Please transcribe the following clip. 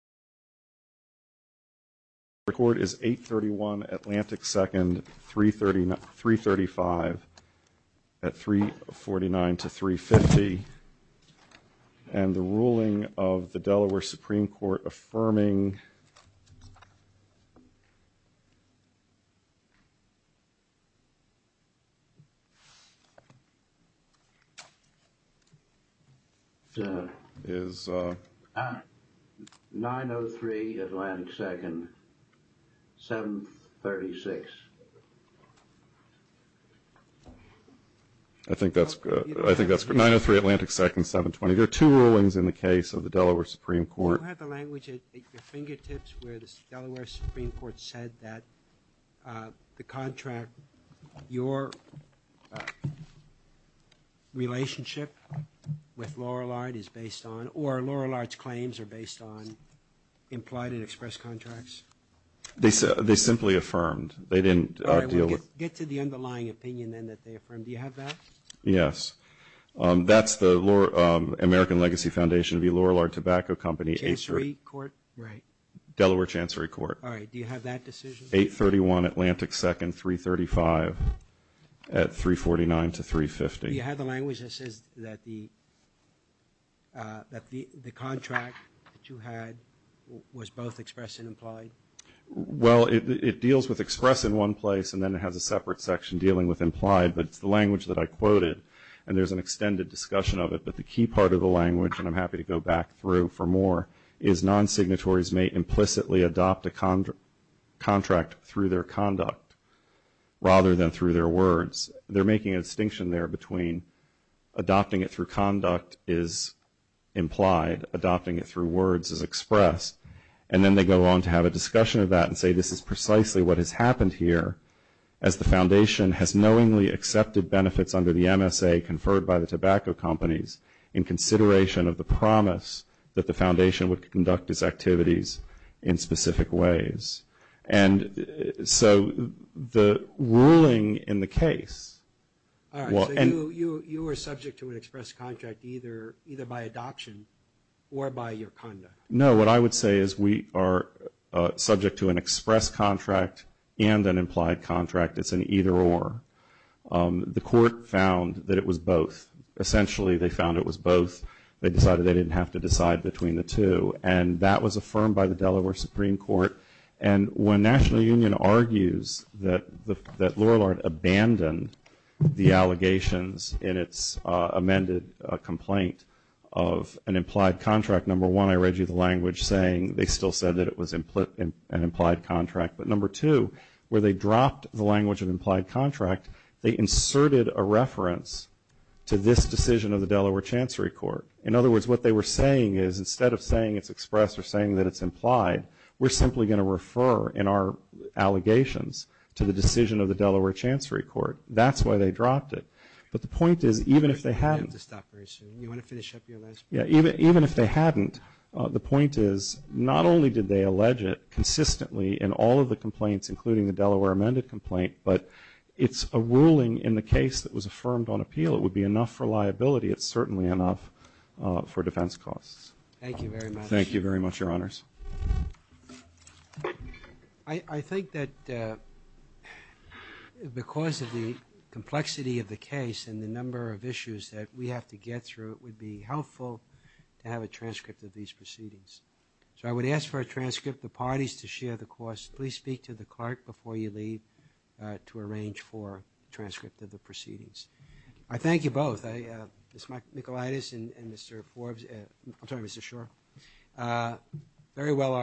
The court is 831 Atlantic 2nd 335 at 349 to 350 and the ruling of the Delaware Supreme Court affirming is 903 Atlantic 2nd 736. I think that's good. I think that's 903 Atlantic 2nd 720. There are two rulings in the case of the language at your fingertips where the Delaware Supreme Court said that the contract your relationship with Lorillard is based on or Lorillard's claims are based on implied and express contracts? They simply affirmed. They didn't deal with. Get to the underlying opinion then that they affirmed. Do you have that? Yes. That's the American Legacy Foundation v. Lorillard Tobacco Company. Delaware Chancery Court. All right. Do you have that decision? 831 Atlantic 2nd 335 at 349 to 350. Do you have the language that says that the contract that you had was both express and implied? Well, it deals with express in one place and then it has a separate section dealing with implied, but it's the language that I quoted and there's an extended discussion of it, but the key part of the language, and I'm happy to go back through for more, is non-signatories may implicitly adopt a contract through their conduct rather than through their words. They're making a distinction there between adopting it through conduct is implied, adopting it through words is expressed, and then they go on to have a discussion of that and say this is precisely what has happened here as the foundation has knowingly accepted benefits under the MSA conferred by the tobacco companies in consideration of the promise that the foundation would conduct its activities in specific ways. And so the ruling in the case. All right. So you were subject to an express contract either by adoption or by your conduct? No, what I would say is we are subject to an express contract and an implied contract. It's an either or. The court found that it was both. Essentially they found it was both. They decided they didn't have to decide between the two, and that was affirmed by the Delaware Supreme Court. And when National Union argues that they still said that it was an implied contract. But number two, where they dropped the language of implied contract, they inserted a reference to this decision of the Delaware Chancery Court. In other words, what they were saying is instead of saying it's expressed or saying that it's implied, we're simply going to refer in our allegations to the decision of the Delaware Chancery Court. That's why they dropped it. But the point is, even if they hadn't, even if they hadn't, the point is, not only did they allege it consistently in all of the complaints, including the Delaware amended complaint, but it's a ruling in the case that was affirmed on appeal. It would be enough for liability. It's certainly enough for defense costs. Thank you very much. Thank you very much, Your Honors. I think that because of the complexity of the case and the number of issues that we have to get through, it would be helpful to have a transcript of these proceedings. So I would ask for a transcript of the parties to share the costs. Please speak to the clerk before you leave to arrange for a transcript of the proceedings. I thank you both, Ms. Michaelitis and Mr. Forbes. I'm sorry, Mr. Schor. Very well argued.